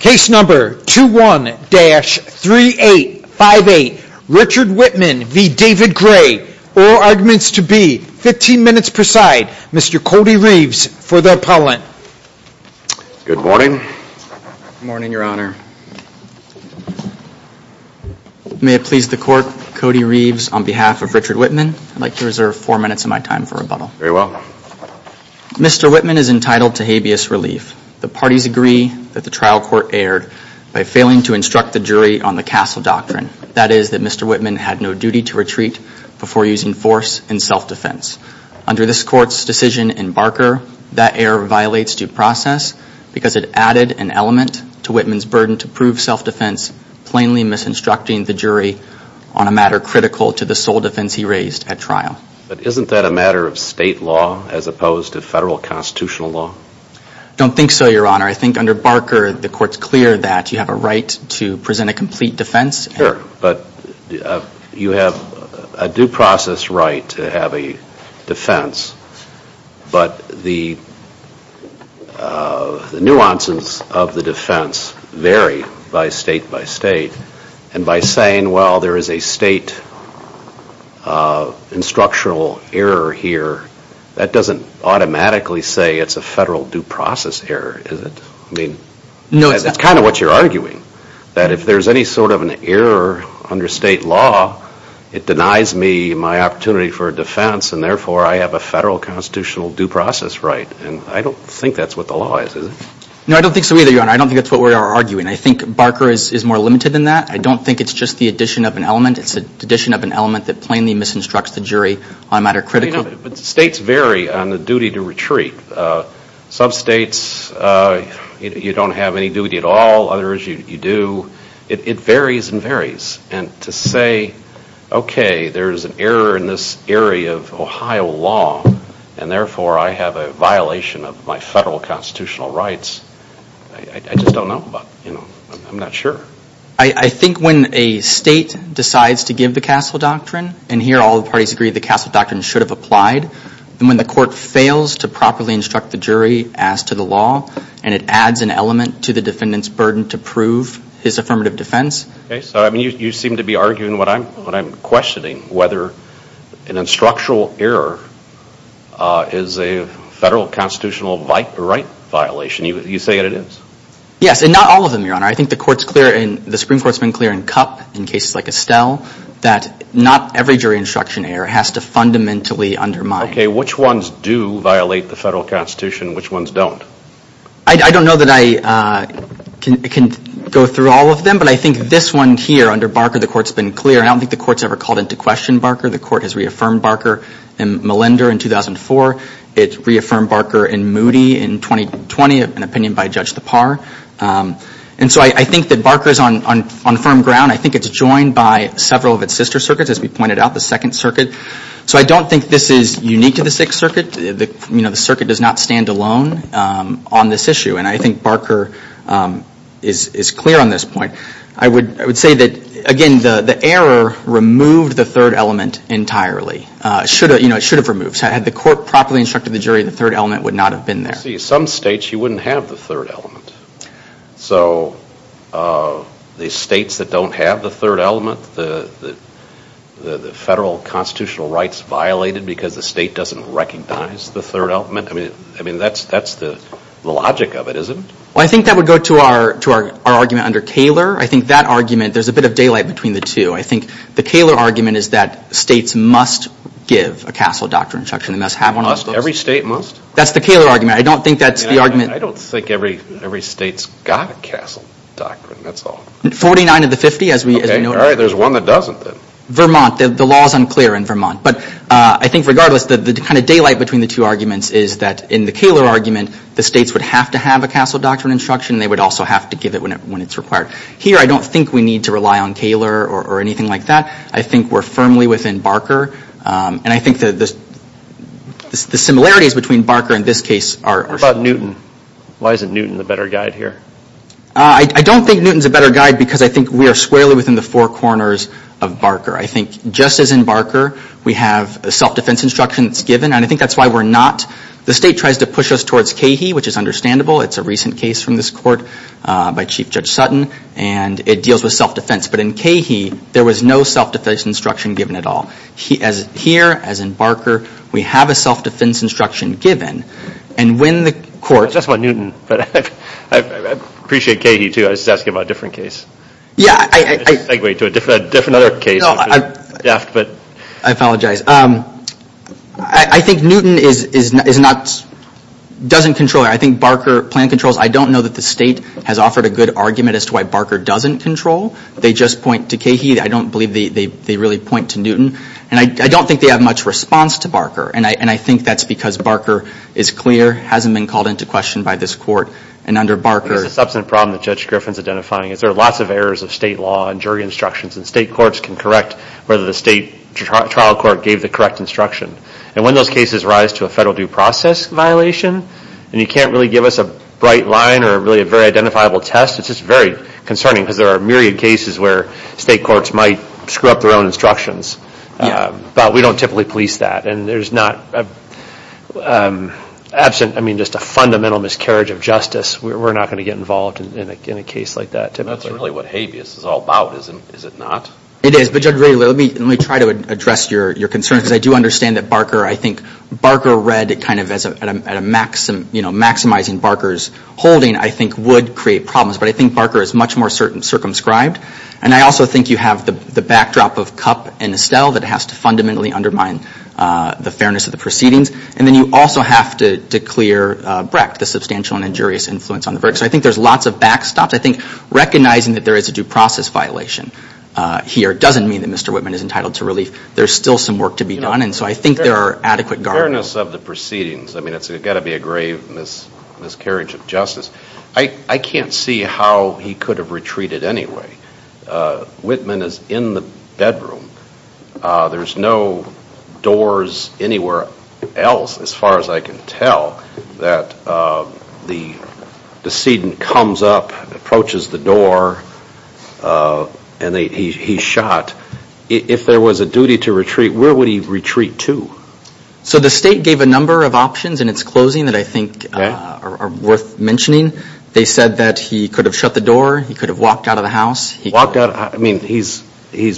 Case number 21-3858, Richard Whitman v. David Gray. All arguments to be 15 minutes per side. Mr. Cody Reeves for the appellant. Good morning. Good morning, Your Honor. May it please the Court, Cody Reeves, on behalf of Richard Whitman, I'd like to reserve four minutes of my time for rebuttal. Very well. Mr. Whitman is entitled to habeas relief. The parties agree that the trial court erred by failing to instruct the jury on the Castle Doctrine, that is, that Mr. Whitman had no duty to retreat before using force in self-defense. Under this Court's decision in Barker, that error violates due process because it added an element to Whitman's burden to prove self-defense, plainly misinstructing the jury on a matter critical to the sole defense he raised at trial. But isn't that a matter of state law as opposed to federal constitutional law? I don't think so, Your Honor. I think under Barker the Court's clear that you have a right to present a complete defense. Sure, but you have a due process right to have a defense, but the nuances of the defense vary by state by state, and by saying, well, there is a state instructional error here, that doesn't automatically say it's a federal due process error, is it? I mean, that's kind of what you're arguing, that if there's any sort of an error under state law, it denies me my opportunity for defense, and therefore I have a federal constitutional due process right. And I don't think that's what the law is, is it? No, I don't think so either, Your Honor. I don't think that's what we are arguing. I think Barker is more limited than that. I don't think it's just the addition of an element. It's the addition of an element that plainly misinstructs the jury on a matter critical. But states vary on the duty to retreat. Some states you don't have any duty at all, others you do. It varies and varies. And to say, okay, there's an error in this area of Ohio law, and therefore I have a violation of my federal constitutional rights, I just don't know about, you know, I'm not sure. I think when a state decides to give the Castle Doctrine, and here all the parties agree the Castle Doctrine should have applied, and when the court fails to properly instruct the jury as to the law, and it adds an element to the defendant's burden to prove his affirmative defense. Okay, so you seem to be arguing what I'm questioning, whether an instructional error is a federal constitutional right violation. You say that it is? Yes, and not all of them, Your Honor. I think the Supreme Court's been clear in Kup, in cases like Estelle, that not every jury instruction error has to fundamentally undermine. Okay, which ones do violate the federal constitution and which ones don't? I don't know that I can go through all of them, but I think this one here under Barker the court's been clear. I don't think the court's ever called into question Barker. The court has reaffirmed Barker in Malinder in 2004. It reaffirmed Barker in Moody in 2020, an opinion by Judge Tappar. And so I think that Barker's on firm ground. I think it's joined by several of its sister circuits, as we pointed out, the Second Circuit. So I don't think this is unique to the Sixth Circuit. The Circuit does not stand alone on this issue, and I think Barker is clear on this point. I would say that, again, the error removed the third element entirely. It should have removed. Had the court properly instructed the jury, the third element would not have been there. See, some states you wouldn't have the third element. So the states that don't have the third element, the federal constitutional rights violated because the state doesn't recognize the third element. I mean, that's the logic of it, isn't it? Well, I think that would go to our argument under Kaler. I think that argument, there's a bit of daylight between the two. I think the Kaler argument is that states must give a castle doctrine instruction. They must have one of those. Every state must? That's the Kaler argument. I don't think that's the argument. I don't think every state's got a castle doctrine. That's all. 49 of the 50, as we noted. All right. There's one that doesn't, then. Vermont. The law is unclear in Vermont. But I think regardless, the kind of daylight between the two arguments is that in the Kaler argument, the states would have to have a castle doctrine instruction, and they would also have to give it when it's required. Here, I don't think we need to rely on Kaler or anything like that. I think we're firmly within Barker. And I think the similarities between Barker and this case are similar. What about Newton? Why isn't Newton the better guide here? I don't think Newton's a better guide because I think we are squarely within the four corners of Barker. I think just as in Barker, we have a self-defense instruction that's given, and I think that's why we're not. The state tries to push us towards Cahey, which is understandable. It's a recent case from this court by Chief Judge Sutton. And it deals with self-defense. But in Cahey, there was no self-defense instruction given at all. Here, as in Barker, we have a self-defense instruction given. And when the court- That's about Newton. But I appreciate Cahey, too. I was just asking about a different case. Yeah, I- A segue to a different other case. I apologize. I think Newton is not, doesn't control. I think Barker plan controls. I don't know that the state has offered a good argument as to why Barker doesn't control. They just point to Cahey. I don't believe they really point to Newton. And I don't think they have much response to Barker. And I think that's because Barker is clear, hasn't been called into question by this court. And under Barker- It's a substantive problem that Judge Griffin's identifying. There are lots of errors of state law and jury instructions. And state courts can correct whether the state trial court gave the correct instruction. And when those cases rise to a federal due process violation, and you can't really give us a bright line or really a very identifiable test, it's just very concerning. Because there are myriad cases where state courts might screw up their own instructions. Yeah. But we don't typically police that. And there's not absent, I mean, just a fundamental miscarriage of justice. We're not going to get involved in a case like that, typically. That's really what habeas is all about, is it not? It is. But, Judge Brady, let me try to address your concerns. Because I do understand that Barker, I think Barker read kind of as a maximizing Barker's holding, I think would create problems. But I think Barker is much more circumscribed. And I also think you have the backdrop of Kupp and Estelle that has to fundamentally undermine the fairness of the proceedings. And then you also have to declare Brecht the substantial and injurious influence on the verdict. So I think there's lots of backstops. I think recognizing that there is a due process violation here doesn't mean that Mr. Whitman is entitled to relief. There's still some work to be done. And so I think there are adequate guardrails. Fairness of the proceedings, I mean, it's got to be a grave miscarriage of justice. I can't see how he could have retreated anyway. Whitman is in the bedroom. There's no doors anywhere else as far as I can tell that the decedent comes up, approaches the door, and he's shot. If there was a duty to retreat, where would he retreat to? So the state gave a number of options in its closing that I think are worth mentioning. They said that he could have shut the door. He could have walked out of the house. Walked out? I mean, he's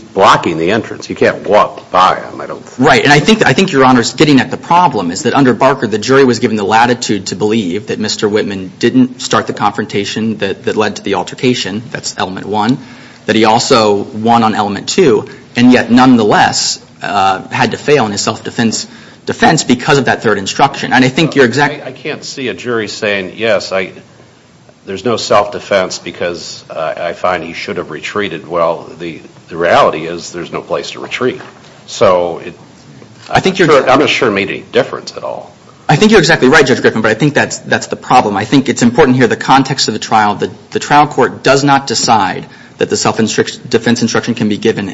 blocking the entrance. He can't walk by him, I don't think. Right. And I think, Your Honors, getting at the problem is that under Barker, the jury was given the latitude to believe that Mr. Whitman didn't start the confrontation that led to the altercation, that's element one, that he also won on element two, and yet nonetheless had to fail in his self-defense because of that third instruction. I can't see a jury saying, yes, there's no self-defense because I find he should have retreated. Well, the reality is there's no place to retreat. So I'm not sure it made any difference at all. I think you're exactly right, Judge Griffin, but I think that's the problem. I think it's important here the context of the trial. The trial court does not decide that the self-defense instruction can be given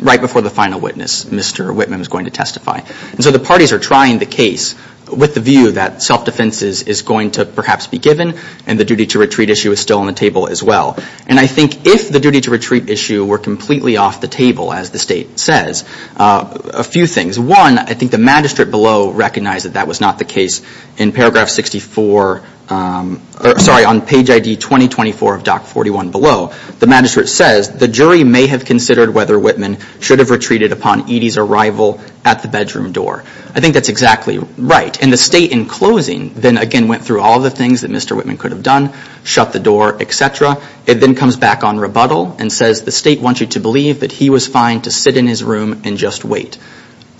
right before the final witness, Mr. Whitman, is going to testify. And so the parties are trying the case with the view that self-defense is going to perhaps be given, and the duty to retreat issue is still on the table as well. And I think if the duty to retreat issue were completely off the table, as the State says, a few things. One, I think the magistrate below recognized that that was not the case. In paragraph 64, sorry, on page ID 2024 of Doc 41 below, the magistrate says, the jury may have considered whether Whitman should have retreated upon Edy's arrival at the bedroom door. I think that's exactly right. And the State, in closing, then again went through all the things that Mr. Whitman could have done, shut the door, et cetera. It then comes back on rebuttal and says the State wants you to believe that he was fine to sit in his room and just wait.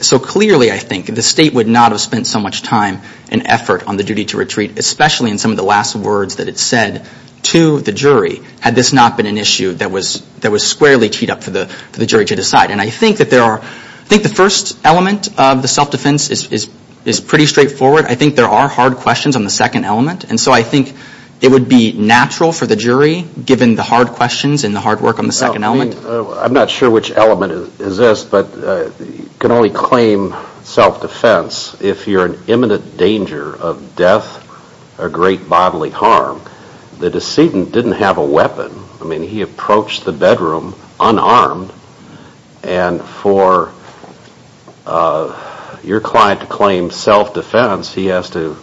So clearly, I think, the State would not have spent so much time and effort on the duty to retreat, especially in some of the last words that it said to the jury, had this not been an issue that was squarely teed up for the jury to decide. And I think that there are, I think the first element of the self-defense is pretty straightforward. I think there are hard questions on the second element. And so I think it would be natural for the jury, given the hard questions and the hard work on the second element. I'm not sure which element is this, but you can only claim self-defense if you're in imminent danger of death or great bodily harm. The decedent didn't have a weapon. I mean, he approached the bedroom unarmed. And for your client to claim self-defense, he has to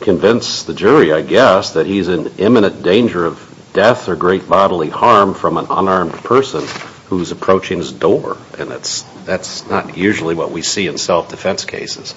convince the jury, I guess, that he's in imminent danger of death or great bodily harm from an unarmed person who's approaching his door. And that's not usually what we see in self-defense cases.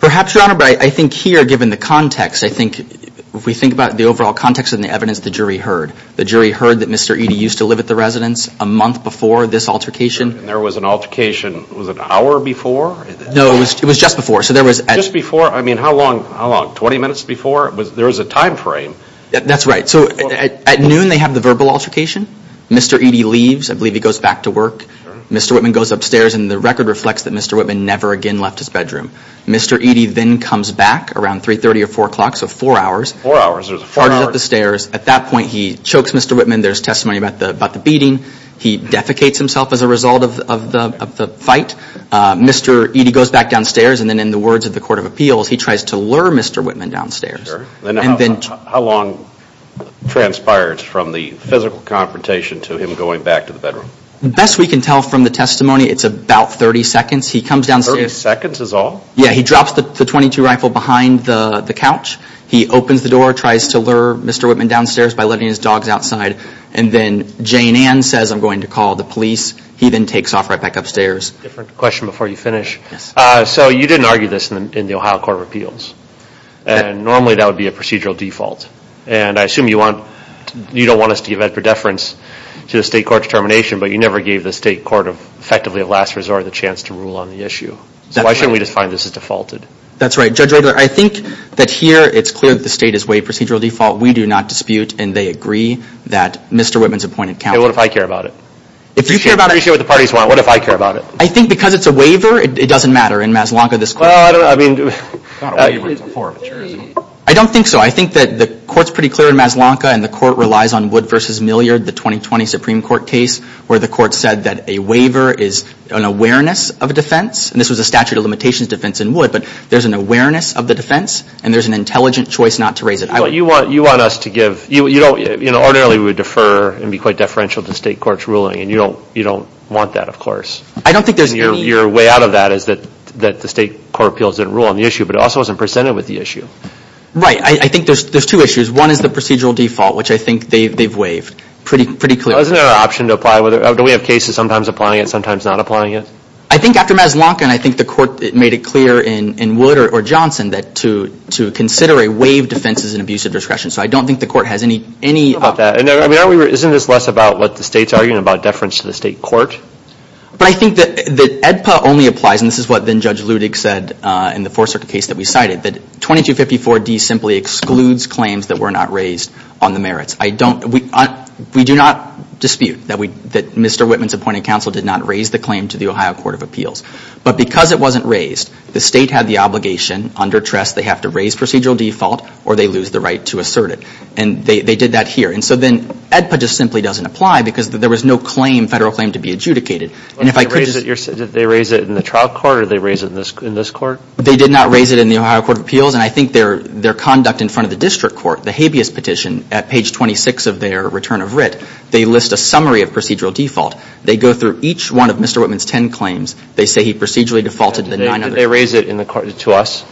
Perhaps, Your Honor, but I think here, given the context, I think, if we think about the overall context and the evidence, the jury heard. The jury heard that Mr. Eady used to live at the residence a month before this altercation. And there was an altercation, was it an hour before? No, it was just before. Just before? I mean, how long? 20 minutes before? There was a time frame. That's right. So at noon, they have the verbal altercation. Mr. Eady leaves. I believe he goes back to work. Mr. Whitman goes upstairs, and the record reflects that Mr. Whitman never again left his bedroom. Mr. Eady then comes back around 3.30 or 4 o'clock, so four hours. Four hours? Four hours up the stairs. At that point, he chokes Mr. Whitman. There's testimony about the beating. He defecates himself as a result of the fight. Mr. Eady goes back downstairs, and then in the words of the Court of Appeals, he tries to lure Mr. Whitman downstairs. And then how long transpires from the physical confrontation to him going back to the bedroom? Best we can tell from the testimony, it's about 30 seconds. He comes downstairs. 30 seconds is all? Yeah. He drops the .22 rifle behind the couch. He opens the door, tries to lure Mr. Whitman downstairs by letting his dogs outside. And then Jane Ann says, I'm going to call the police. He then takes off right back upstairs. Different question before you finish. So you didn't argue this in the Ohio Court of Appeals. Normally, that would be a procedural default. And I assume you don't want us to give extra deference to the state court's determination, but you never gave the state court effectively a last resort of the chance to rule on the issue. So why shouldn't we just find this as defaulted? That's right. Judge Rogler, I think that here it's clear that the state is way procedural default. We do not dispute, and they agree, that Mr. Whitman's appointment counts. Hey, what if I care about it? If you care about it. If you care what the parties want, what if I care about it? I think because it's a waiver, it doesn't matter. In Mazzalonka, this court. Well, I mean. It's not a waiver. It's a forfeiture. I don't think so. I think that the court's pretty clear in Mazzalonka, and the court relies on Wood v. Milliard, the 2020 Supreme Court case, where the court said that a waiver is an awareness of a defense. And this was a statute of limitations defense in Wood. But there's an awareness of the defense, and there's an intelligent choice not to raise it. You want us to give. You know, ordinarily we would defer and be quite deferential to the state court's ruling, and you don't want that, of course. I don't think there's any. And your way out of that is that the state court appeals didn't rule on the issue, but it also wasn't presented with the issue. Right. I think there's two issues. One is the procedural default, which I think they've waived pretty clearly. Well, isn't there an option to apply? Do we have cases sometimes applying it, sometimes not applying it? I think after Mazzalonka, and I think the court made it clear in Wood or Johnson to consider a waived defense as an abusive discretion. So I don't think the court has any. Isn't this less about what the state's arguing about deference to the state court? But I think that AEDPA only applies, and this is what then Judge Ludig said in the Fourth Circuit case that we cited, that 2254D simply excludes claims that were not raised on the merits. We do not dispute that Mr. Whitman's appointed counsel did not raise the claim to the Ohio Court of Appeals. But because it wasn't raised, the state had the obligation under Trest they have to raise procedural default or they lose the right to assert it. And they did that here. And so then AEDPA just simply doesn't apply because there was no federal claim to be adjudicated. Did they raise it in the trial court or did they raise it in this court? They did not raise it in the Ohio Court of Appeals. And I think their conduct in front of the district court, the habeas petition at page 26 of their return of writ, they list a summary of procedural default. They go through each one of Mr. Whitman's ten claims. They say he procedurally defaulted to the nine others. Did they raise it to us?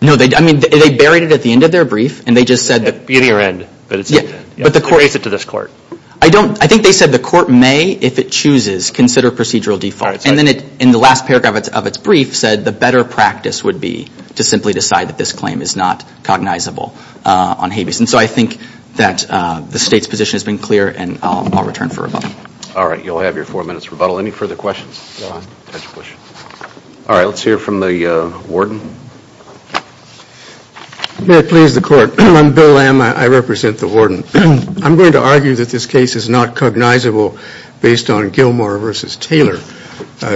No. I mean, they buried it at the end of their brief, and they just said that... At the end. Yeah. But the court... Raise it to this court. I don't. I think they said the court may, if it chooses, consider procedural default. And then it, in the last paragraph of its brief, said the better practice would be to simply decide that this claim is not cognizable on habeas. And so I think that the state's position has been clear, and I'll return for rebuttal. All right. You'll have your four minutes rebuttal. Any further questions? All right. Let's hear from the warden. May it please the court. I'm Bill Lamb. I represent the warden. I'm going to argue that this case is not cognizable based on Gilmore v. Taylor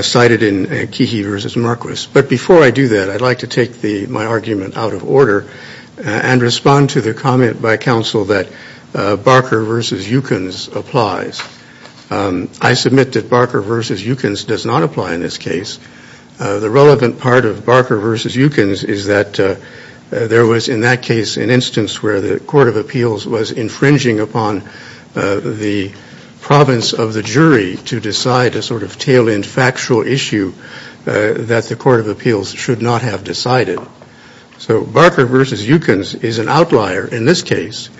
cited in Keehy v. Marquis. But before I do that, I'd like to take my argument out of order and respond to the comment by counsel that Barker v. Eukins applies. I submit that Barker v. Eukins does not apply in this case. The relevant part of Barker v. Eukins is that there was, in that case, an instance where the court of appeals was infringing upon the province of the jury to decide a sort of tail-end factual issue that the court of appeals should not have decided. So Barker v. Eukins is an outlier in this case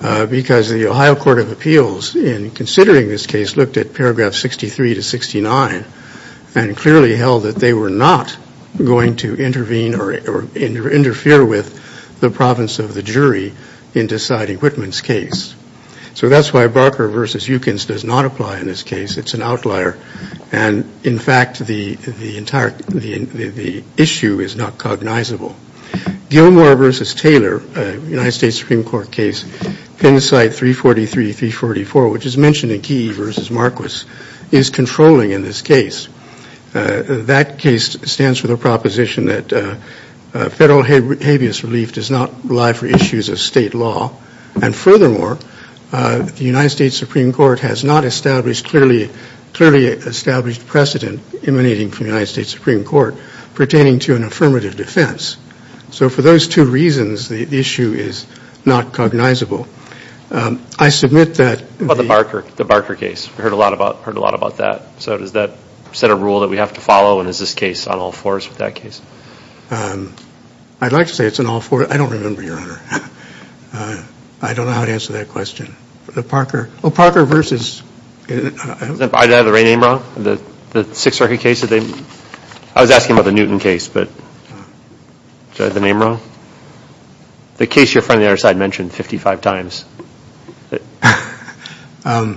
because the Ohio court of appeals, in considering this case, looked at paragraph 63 to 69 and clearly held that they were not going to intervene or interfere with the province of the jury in deciding Whitman's case. So that's why Barker v. Eukins does not apply in this case. It's an outlier. And, in fact, the issue is not cognizable. Gilmore v. Taylor, a United States Supreme Court case, Penn site 343-344, which is mentioned in Key v. Marquis, is controlling in this case. That case stands for the proposition that federal habeas relief does not rely for issues of state law. And, furthermore, the United States Supreme Court has not established clearly established precedent emanating from the United States Supreme Court pertaining to an affirmative defense. So for those two reasons, the issue is not cognizable. I submit that the- About the Barker case. We heard a lot about that. So does that set a rule that we have to follow? And is this case on all fours with that case? I'd like to say it's on all fours. I don't remember, Your Honor. I don't know how to answer that question. Parker v.- Did I have the right name wrong? The Sixth Circuit case? I was asking about the Newton case, but did I have the name wrong? The case your friend on the other side mentioned 55 times. Can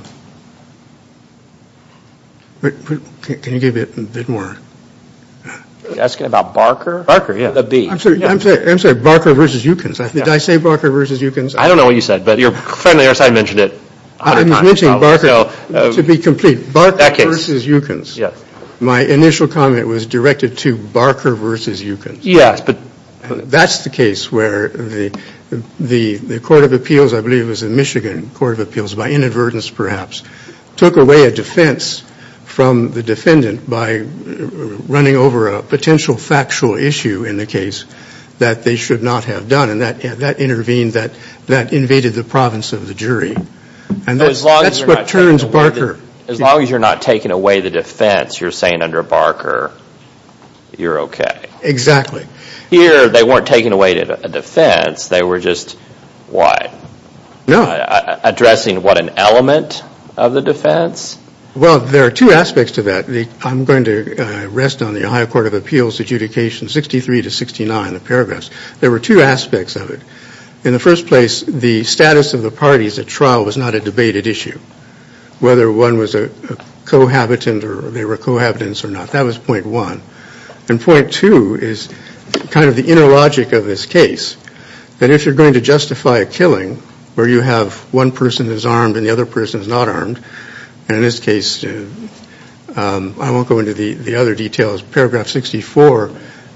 you give it a bit more? You're asking about Barker? Barker, yeah. The B. I'm sorry. Barker v. Eukins. Did I say Barker v. Eukins? I don't know what you said, but your friend on the other side mentioned it 100 times. I was mentioning Barker to be complete. Barker v. Eukins. Yes. My initial comment was directed to Barker v. Eukins. Yes, but- That's the case where the Court of Appeals, I believe it was the Michigan Court of Appeals, by inadvertence perhaps, took away a defense from the defendant by running over a potential factual issue in the case that they should not have done. And that intervened, that invaded the province of the jury. And that's what turns Barker- As long as you're not taking away the defense, you're saying under Barker, you're okay. Exactly. Here, they weren't taking away a defense, they were just what? Addressing what, an element of the defense? Well, there are two aspects to that. I'm going to rest on the Ohio Court of Appeals Adjudication 63 to 69, the paragraphs. There were two aspects of it. In the first place, the status of the parties at trial was not a debated issue. Whether one was a cohabitant or they were cohabitants or not, that was point one. And point two is kind of the inner logic of this case. That if you're going to justify a killing where you have one person who's armed and the other person who's not armed, and in this case, I won't go into the other details, paragraph 64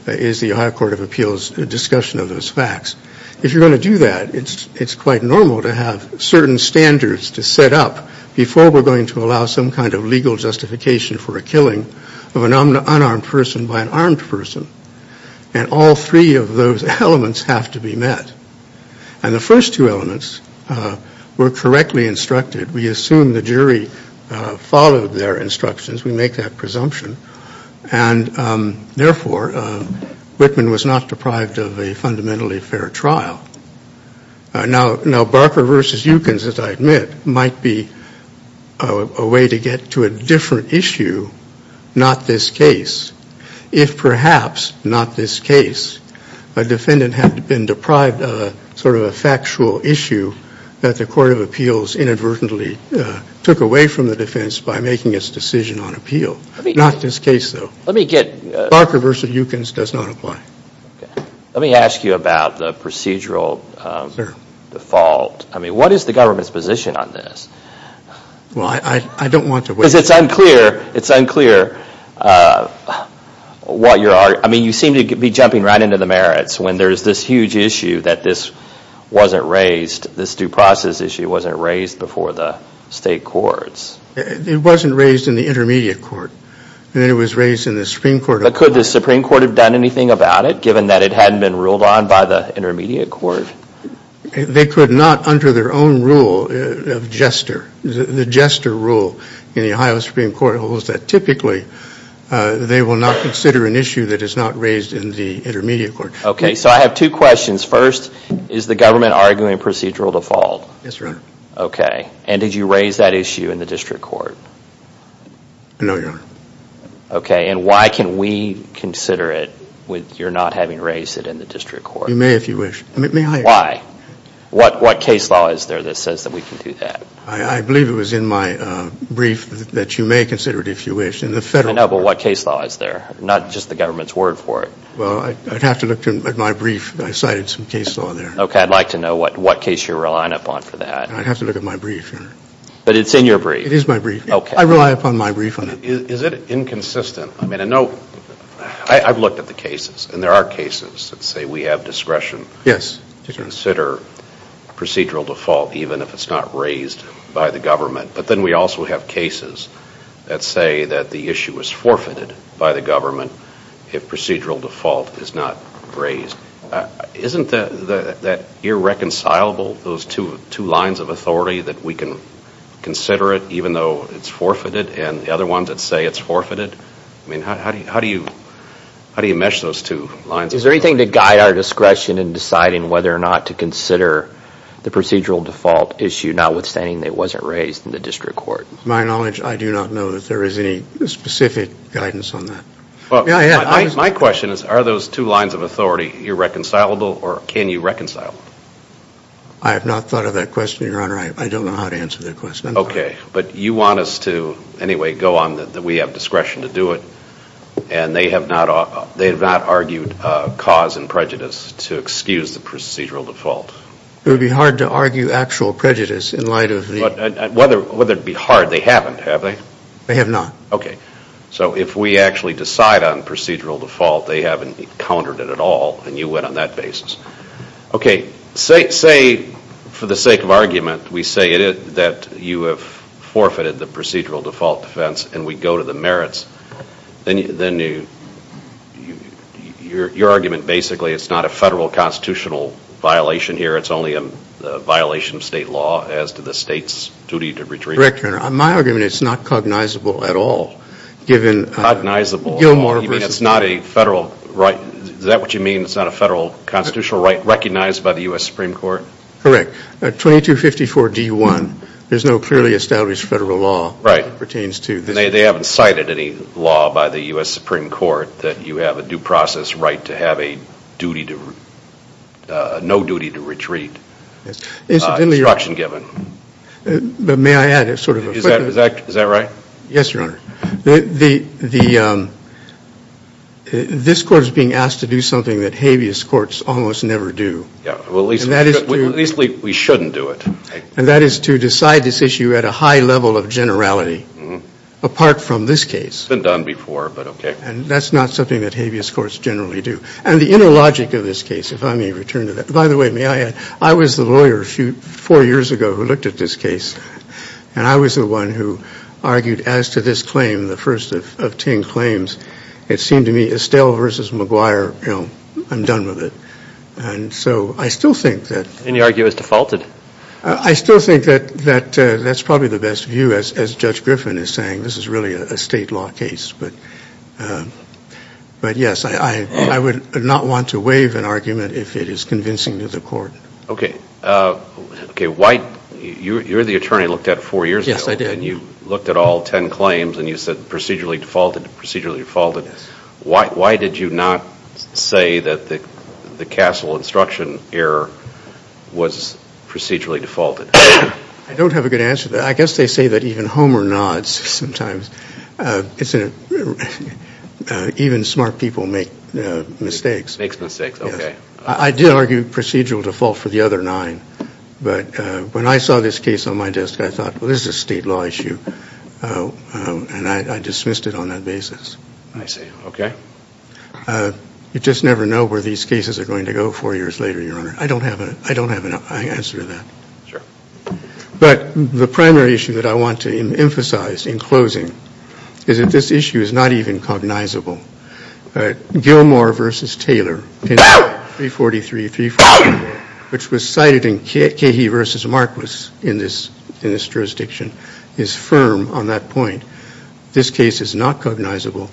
is the Ohio Court of Appeals discussion of those facts. If you're going to do that, it's quite normal to have certain standards to set up before we're going to allow some kind of legal justification for a killing of an unarmed person by an armed person. And all three of those elements have to be met. And the first two elements were correctly instructed. We assume the jury followed their instructions. We make that presumption. And, therefore, Whitman was not deprived of a fundamentally fair trial. Now, Barker v. Eukins, as I admit, might be a way to get to a different issue, not this case, if perhaps, not this case, a defendant had been deprived of a sort of a factual issue that the Court of Appeals inadvertently took away from the defense by making its decision on appeal. Not this case, though. Let me get... Barker v. Eukins does not apply. Let me ask you about the procedural default. I mean, what is the government's position on this? Well, I don't want to... Because it's unclear, it's unclear what your, I mean, you seem to be jumping right into the merits when there's this huge issue that this wasn't raised, this due process issue wasn't raised before the state courts. It wasn't raised in the intermediate court. It was raised in the Supreme Court. But could the Supreme Court have done anything about it, given that it hadn't been ruled on by the intermediate court? They could not, under their own rule of jester, the jester rule in the Ohio Supreme Court holds that typically they will not consider an issue that is not raised in the intermediate court. Okay, so I have two questions. First, is the government arguing procedural default? Yes, Your Honor. Okay, and did you raise that issue in the district court? No, Your Honor. Okay, and why can we consider it with your not having raised it in the district court? You may, if you wish. Why? What case law is there that says that we can do that? I believe it was in my brief that you may consider it, if you wish. In the federal court... I know, but what case law is there? Not just the government's word for it. Well, I'd have to look at my brief. I cited some case law there. Okay, I'd like to know what case you're relying upon for that. I'd have to look at my brief, Your Honor. But it's in your brief? It is my brief. Okay. I rely upon my brief on it. Is it inconsistent? I mean, I know, I've looked at the cases, and there are cases that say we have discretion... Yes. ...to consider procedural default even if it's not raised by the government, but then we also have cases that say that the issue was forfeited by the government if procedural default is not raised. Isn't that irreconcilable, those two lines of authority, that we can consider it even though it's forfeited, and the other ones that say it's forfeited? I mean, how do you mesh those two lines of authority? Is there anything to guide our discretion in deciding whether or not to consider the procedural default issue notwithstanding that it wasn't raised in the district court? To my knowledge, I do not know that there is any specific guidance on that. My question is, are those two lines of authority irreconcilable, or can you reconcile them? I have not thought of that question, Your Honor. I don't know how to answer that question. Okay. But you want us to, anyway, go on that we have discretion to do it, and they have not argued cause and prejudice to excuse the procedural default? It would be hard to argue actual prejudice in light of the... Whether it be hard, they haven't, have they? They have not. Okay. So if we actually decide on procedural default, they haven't countered it at all, and you went on that basis. Okay. Say, for the sake of argument, we say that you have forfeited the procedural default defense and we go to the merits, then your argument basically, it's not a federal constitutional violation here, it's only a violation of state law as to the state's duty to retrieve... Your Honor, my argument is it's not cognizable at all, given... Cognizable at all, you mean it's not a federal right, is that what you mean, it's not a federal constitutional right recognized by the U.S. Supreme Court? Correct. 2254D1, there's no clearly established federal law that pertains to this. They haven't cited any law by the U.S. Supreme Court that you have a due process right to have a duty to, no duty to retrieve, instruction given. But may I add sort of a quick... Is that right? Yes, Your Honor. This Court is being asked to do something that habeas courts almost never do. At least we shouldn't do it. And that is to decide this issue at a high level of generality, apart from this case. It's been done before, but okay. And that's not something that habeas courts generally do. And the inner logic of this case, if I may return to that... By the way, may I add, I was the lawyer four years ago who looked at this case. And I was the one who argued as to this claim, the first of 10 claims. It seemed to me Estelle versus McGuire, you know, I'm done with it. And so I still think that... And you argue it was defaulted? I still think that that's probably the best view, as Judge Griffin is saying. This is really a state law case. But, yes, I would not want to waive an argument if it is convincing to the Court. Okay. You're the attorney who looked at it four years ago. Yes, I did. And you looked at all 10 claims and you said procedurally defaulted, procedurally defaulted. Why did you not say that the Castle instruction error was procedurally defaulted? I don't have a good answer to that. I guess they say that even Homer nods sometimes. Even smart people make mistakes. Makes mistakes. Okay. I did argue procedural default for the other nine. But when I saw this case on my desk, I thought, well, this is a state law issue. And I dismissed it on that basis. I see. Okay. You just never know where these cases are going to go four years later, Your Honor. I don't have an answer to that. Sure. But the primary issue that I want to emphasize in closing is that this issue is not even cognizable. Gilmore v. Taylor, 343, 344, which was cited in Cahey v. Marquis in this jurisdiction, is firm on that point. This case is not cognizable.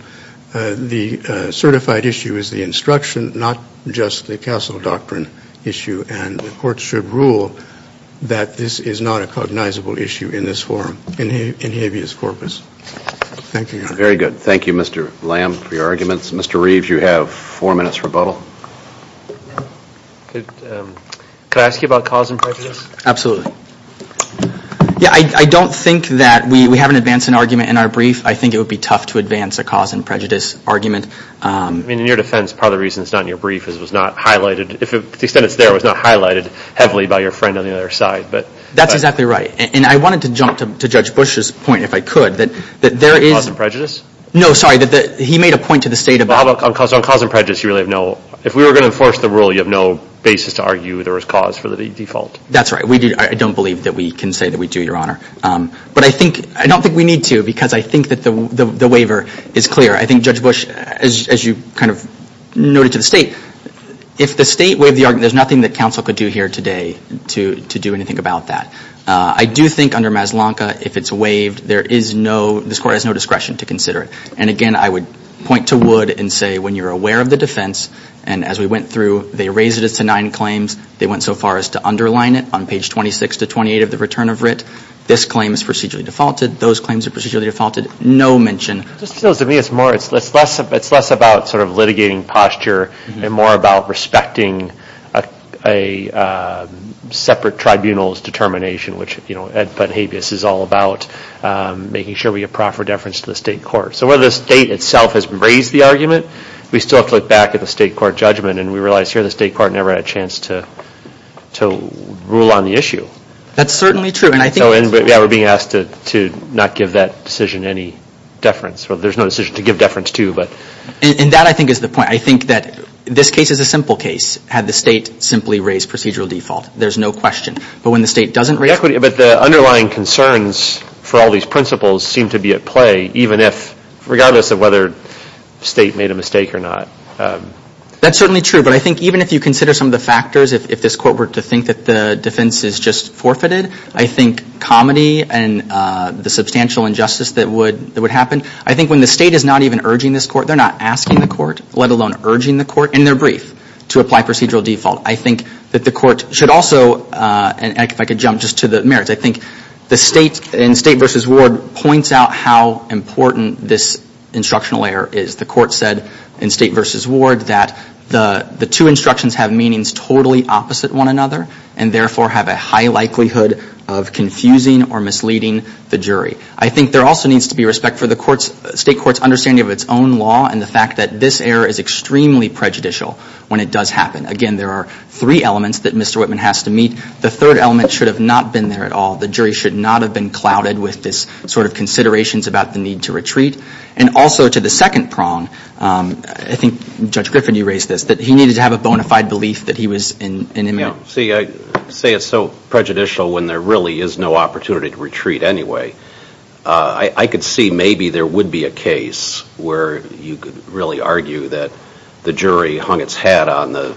The certified issue is the instruction, not just the Castle doctrine issue. And the court should rule that this is not a cognizable issue in this forum, in habeas corpus. Thank you, Your Honor. Very good. Thank you, Mr. Lamb, for your arguments. Mr. Reeves, you have four minutes rebuttal. Could I ask you about cause and prejudice? Absolutely. Yeah, I don't think that we haven't advanced an argument in our brief. I think it would be tough to advance a cause and prejudice argument. I mean, in your defense, part of the reason it's not in your brief is it was not highlighted. To the extent it's there, it was not highlighted heavily by your friend on the other side. That's exactly right. And I wanted to jump to Judge Bush's point, if I could. Cause and prejudice? No, sorry. He made a point to the State about On cause and prejudice, you really have no If we were going to enforce the rule, you have no basis to argue there was cause for the default. That's right. I don't believe that we can say that we do, Your Honor. But I don't think we need to because I think that the waiver is clear. I think Judge Bush, as you kind of noted to the State, if the State waived the argument, there's nothing that counsel could do here today to do anything about that. I do think under Mazlanka, if it's waived, there is no, this Court has no discretion to consider it. And again, I would point to Wood and say when you're aware of the defense, and as we went through, they raised it to nine claims. They went so far as to underline it on page 26 to 28 of the return of writ. This claim is procedurally defaulted. Those claims are procedurally defaulted. No mention It just feels to me it's less about sort of litigating posture and more about respecting a separate tribunal's determination, which Ed Putt-Habeas is all about, making sure we get proper deference to the State Court. So whether the State itself has raised the argument, we still have to look back at the State Court judgment, and we realize here the State Court never had a chance to rule on the issue. That's certainly true. We're being asked to not give that decision any deference. There's no decision to give deference to. And that, I think, is the point. I think that this case is a simple case had the State simply raised procedural default. There's no question. But when the State doesn't raise it But the underlying concerns for all these principles seem to be at play, even if, regardless of whether the State made a mistake or not. That's certainly true, but I think even if you consider some of the factors, if this Court were to think that the defense is just forfeited, I think comedy and the substantial injustice that would happen. I think when the State is not even urging this Court, they're not asking the Court, let alone urging the Court in their brief, to apply procedural default. I think that the Court should also, and if I could jump just to the merits, I think the State, in State v. Ward, points out how important this instructional error is. The Court said in State v. Ward that the two instructions have meanings totally opposite one another and therefore have a high likelihood of confusing or misleading the jury. I think there also needs to be respect for the State Court's understanding of its own law and the fact that this error is extremely prejudicial when it does happen. Again, there are three elements that Mr. Whitman has to meet. The third element should have not been there at all. The jury should not have been clouded with this sort of considerations about the need to retreat. And also to the second prong, I think Judge Griffin, you raised this, that he needed to have a bona fide belief that he was in imminent danger. See, I say it's so prejudicial when there really is no opportunity to retreat anyway. I could see maybe there would be a case where you could really argue that the jury hung its hat on the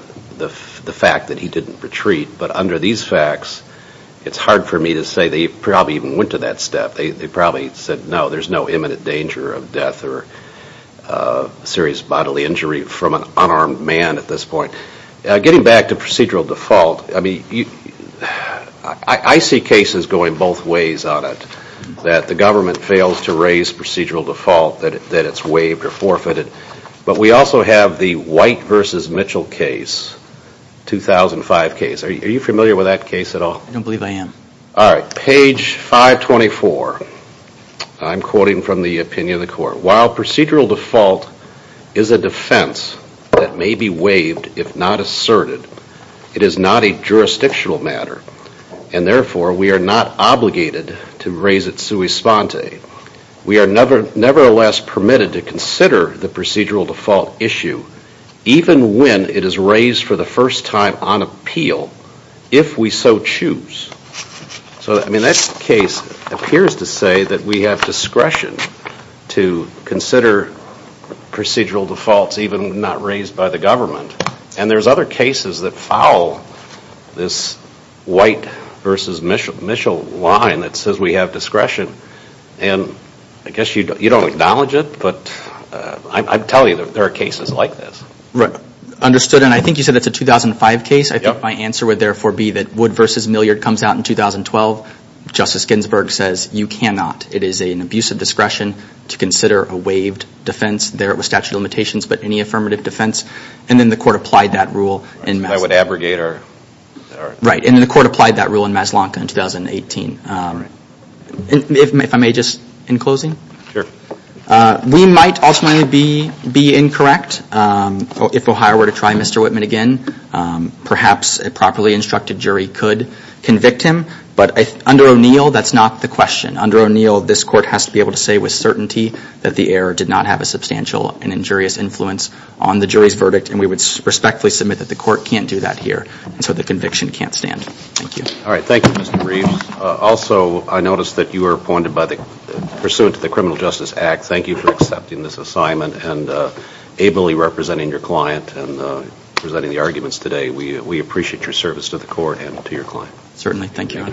fact that he didn't retreat. But under these facts, it's hard for me to say they probably even went to that step. They probably said, no, there's no imminent danger of death or serious bodily injury from an unarmed man at this point. Getting back to procedural default, I see cases going both ways on it, that the government fails to raise procedural default, that it's waived or forfeited. But we also have the White v. Mitchell case, 2005 case. Are you familiar with that case at all? I don't believe I am. All right, page 524. I'm quoting from the opinion of the court. While procedural default is a defense that may be waived if not asserted, it is not a jurisdictional matter, and therefore we are not obligated to raise it sui sponte. We are nevertheless permitted to consider the procedural default issue, even when it is raised for the first time on appeal, if we so choose. So, I mean, that case appears to say that we have discretion to consider procedural defaults, even if not raised by the government. And there's other cases that foul this White v. Mitchell line that says we have discretion. And I guess you don't acknowledge it, but I'm telling you that there are cases like this. Right, understood. And I think you said it's a 2005 case. I think my answer would therefore be that Wood v. Milliard comes out in 2012. Justice Ginsburg says you cannot. It is an abuse of discretion to consider a waived defense. There it was statute of limitations, but any affirmative defense. And then the court applied that rule. I would abrogate or... Right, and then the court applied that rule in Maslanka in 2018. If I may, just in closing. We might ultimately be incorrect. If Ohio were to try Mr. Whitman again, perhaps a properly instructed jury could convict him. But under O'Neill, that's not the question. Under O'Neill, this court has to be able to say with certainty that the error did not have a substantial and injurious influence on the jury's verdict, and we would respectfully submit that the court can't do that here, and so the conviction can't stand. Thank you. All right, thank you, Mr. Reeves. Also, I noticed that you were appointed pursuant to the Criminal Justice Act. Thank you for accepting this assignment and ably representing your client and presenting the arguments today. We appreciate your service to the court and to your client. Certainly. Thank you.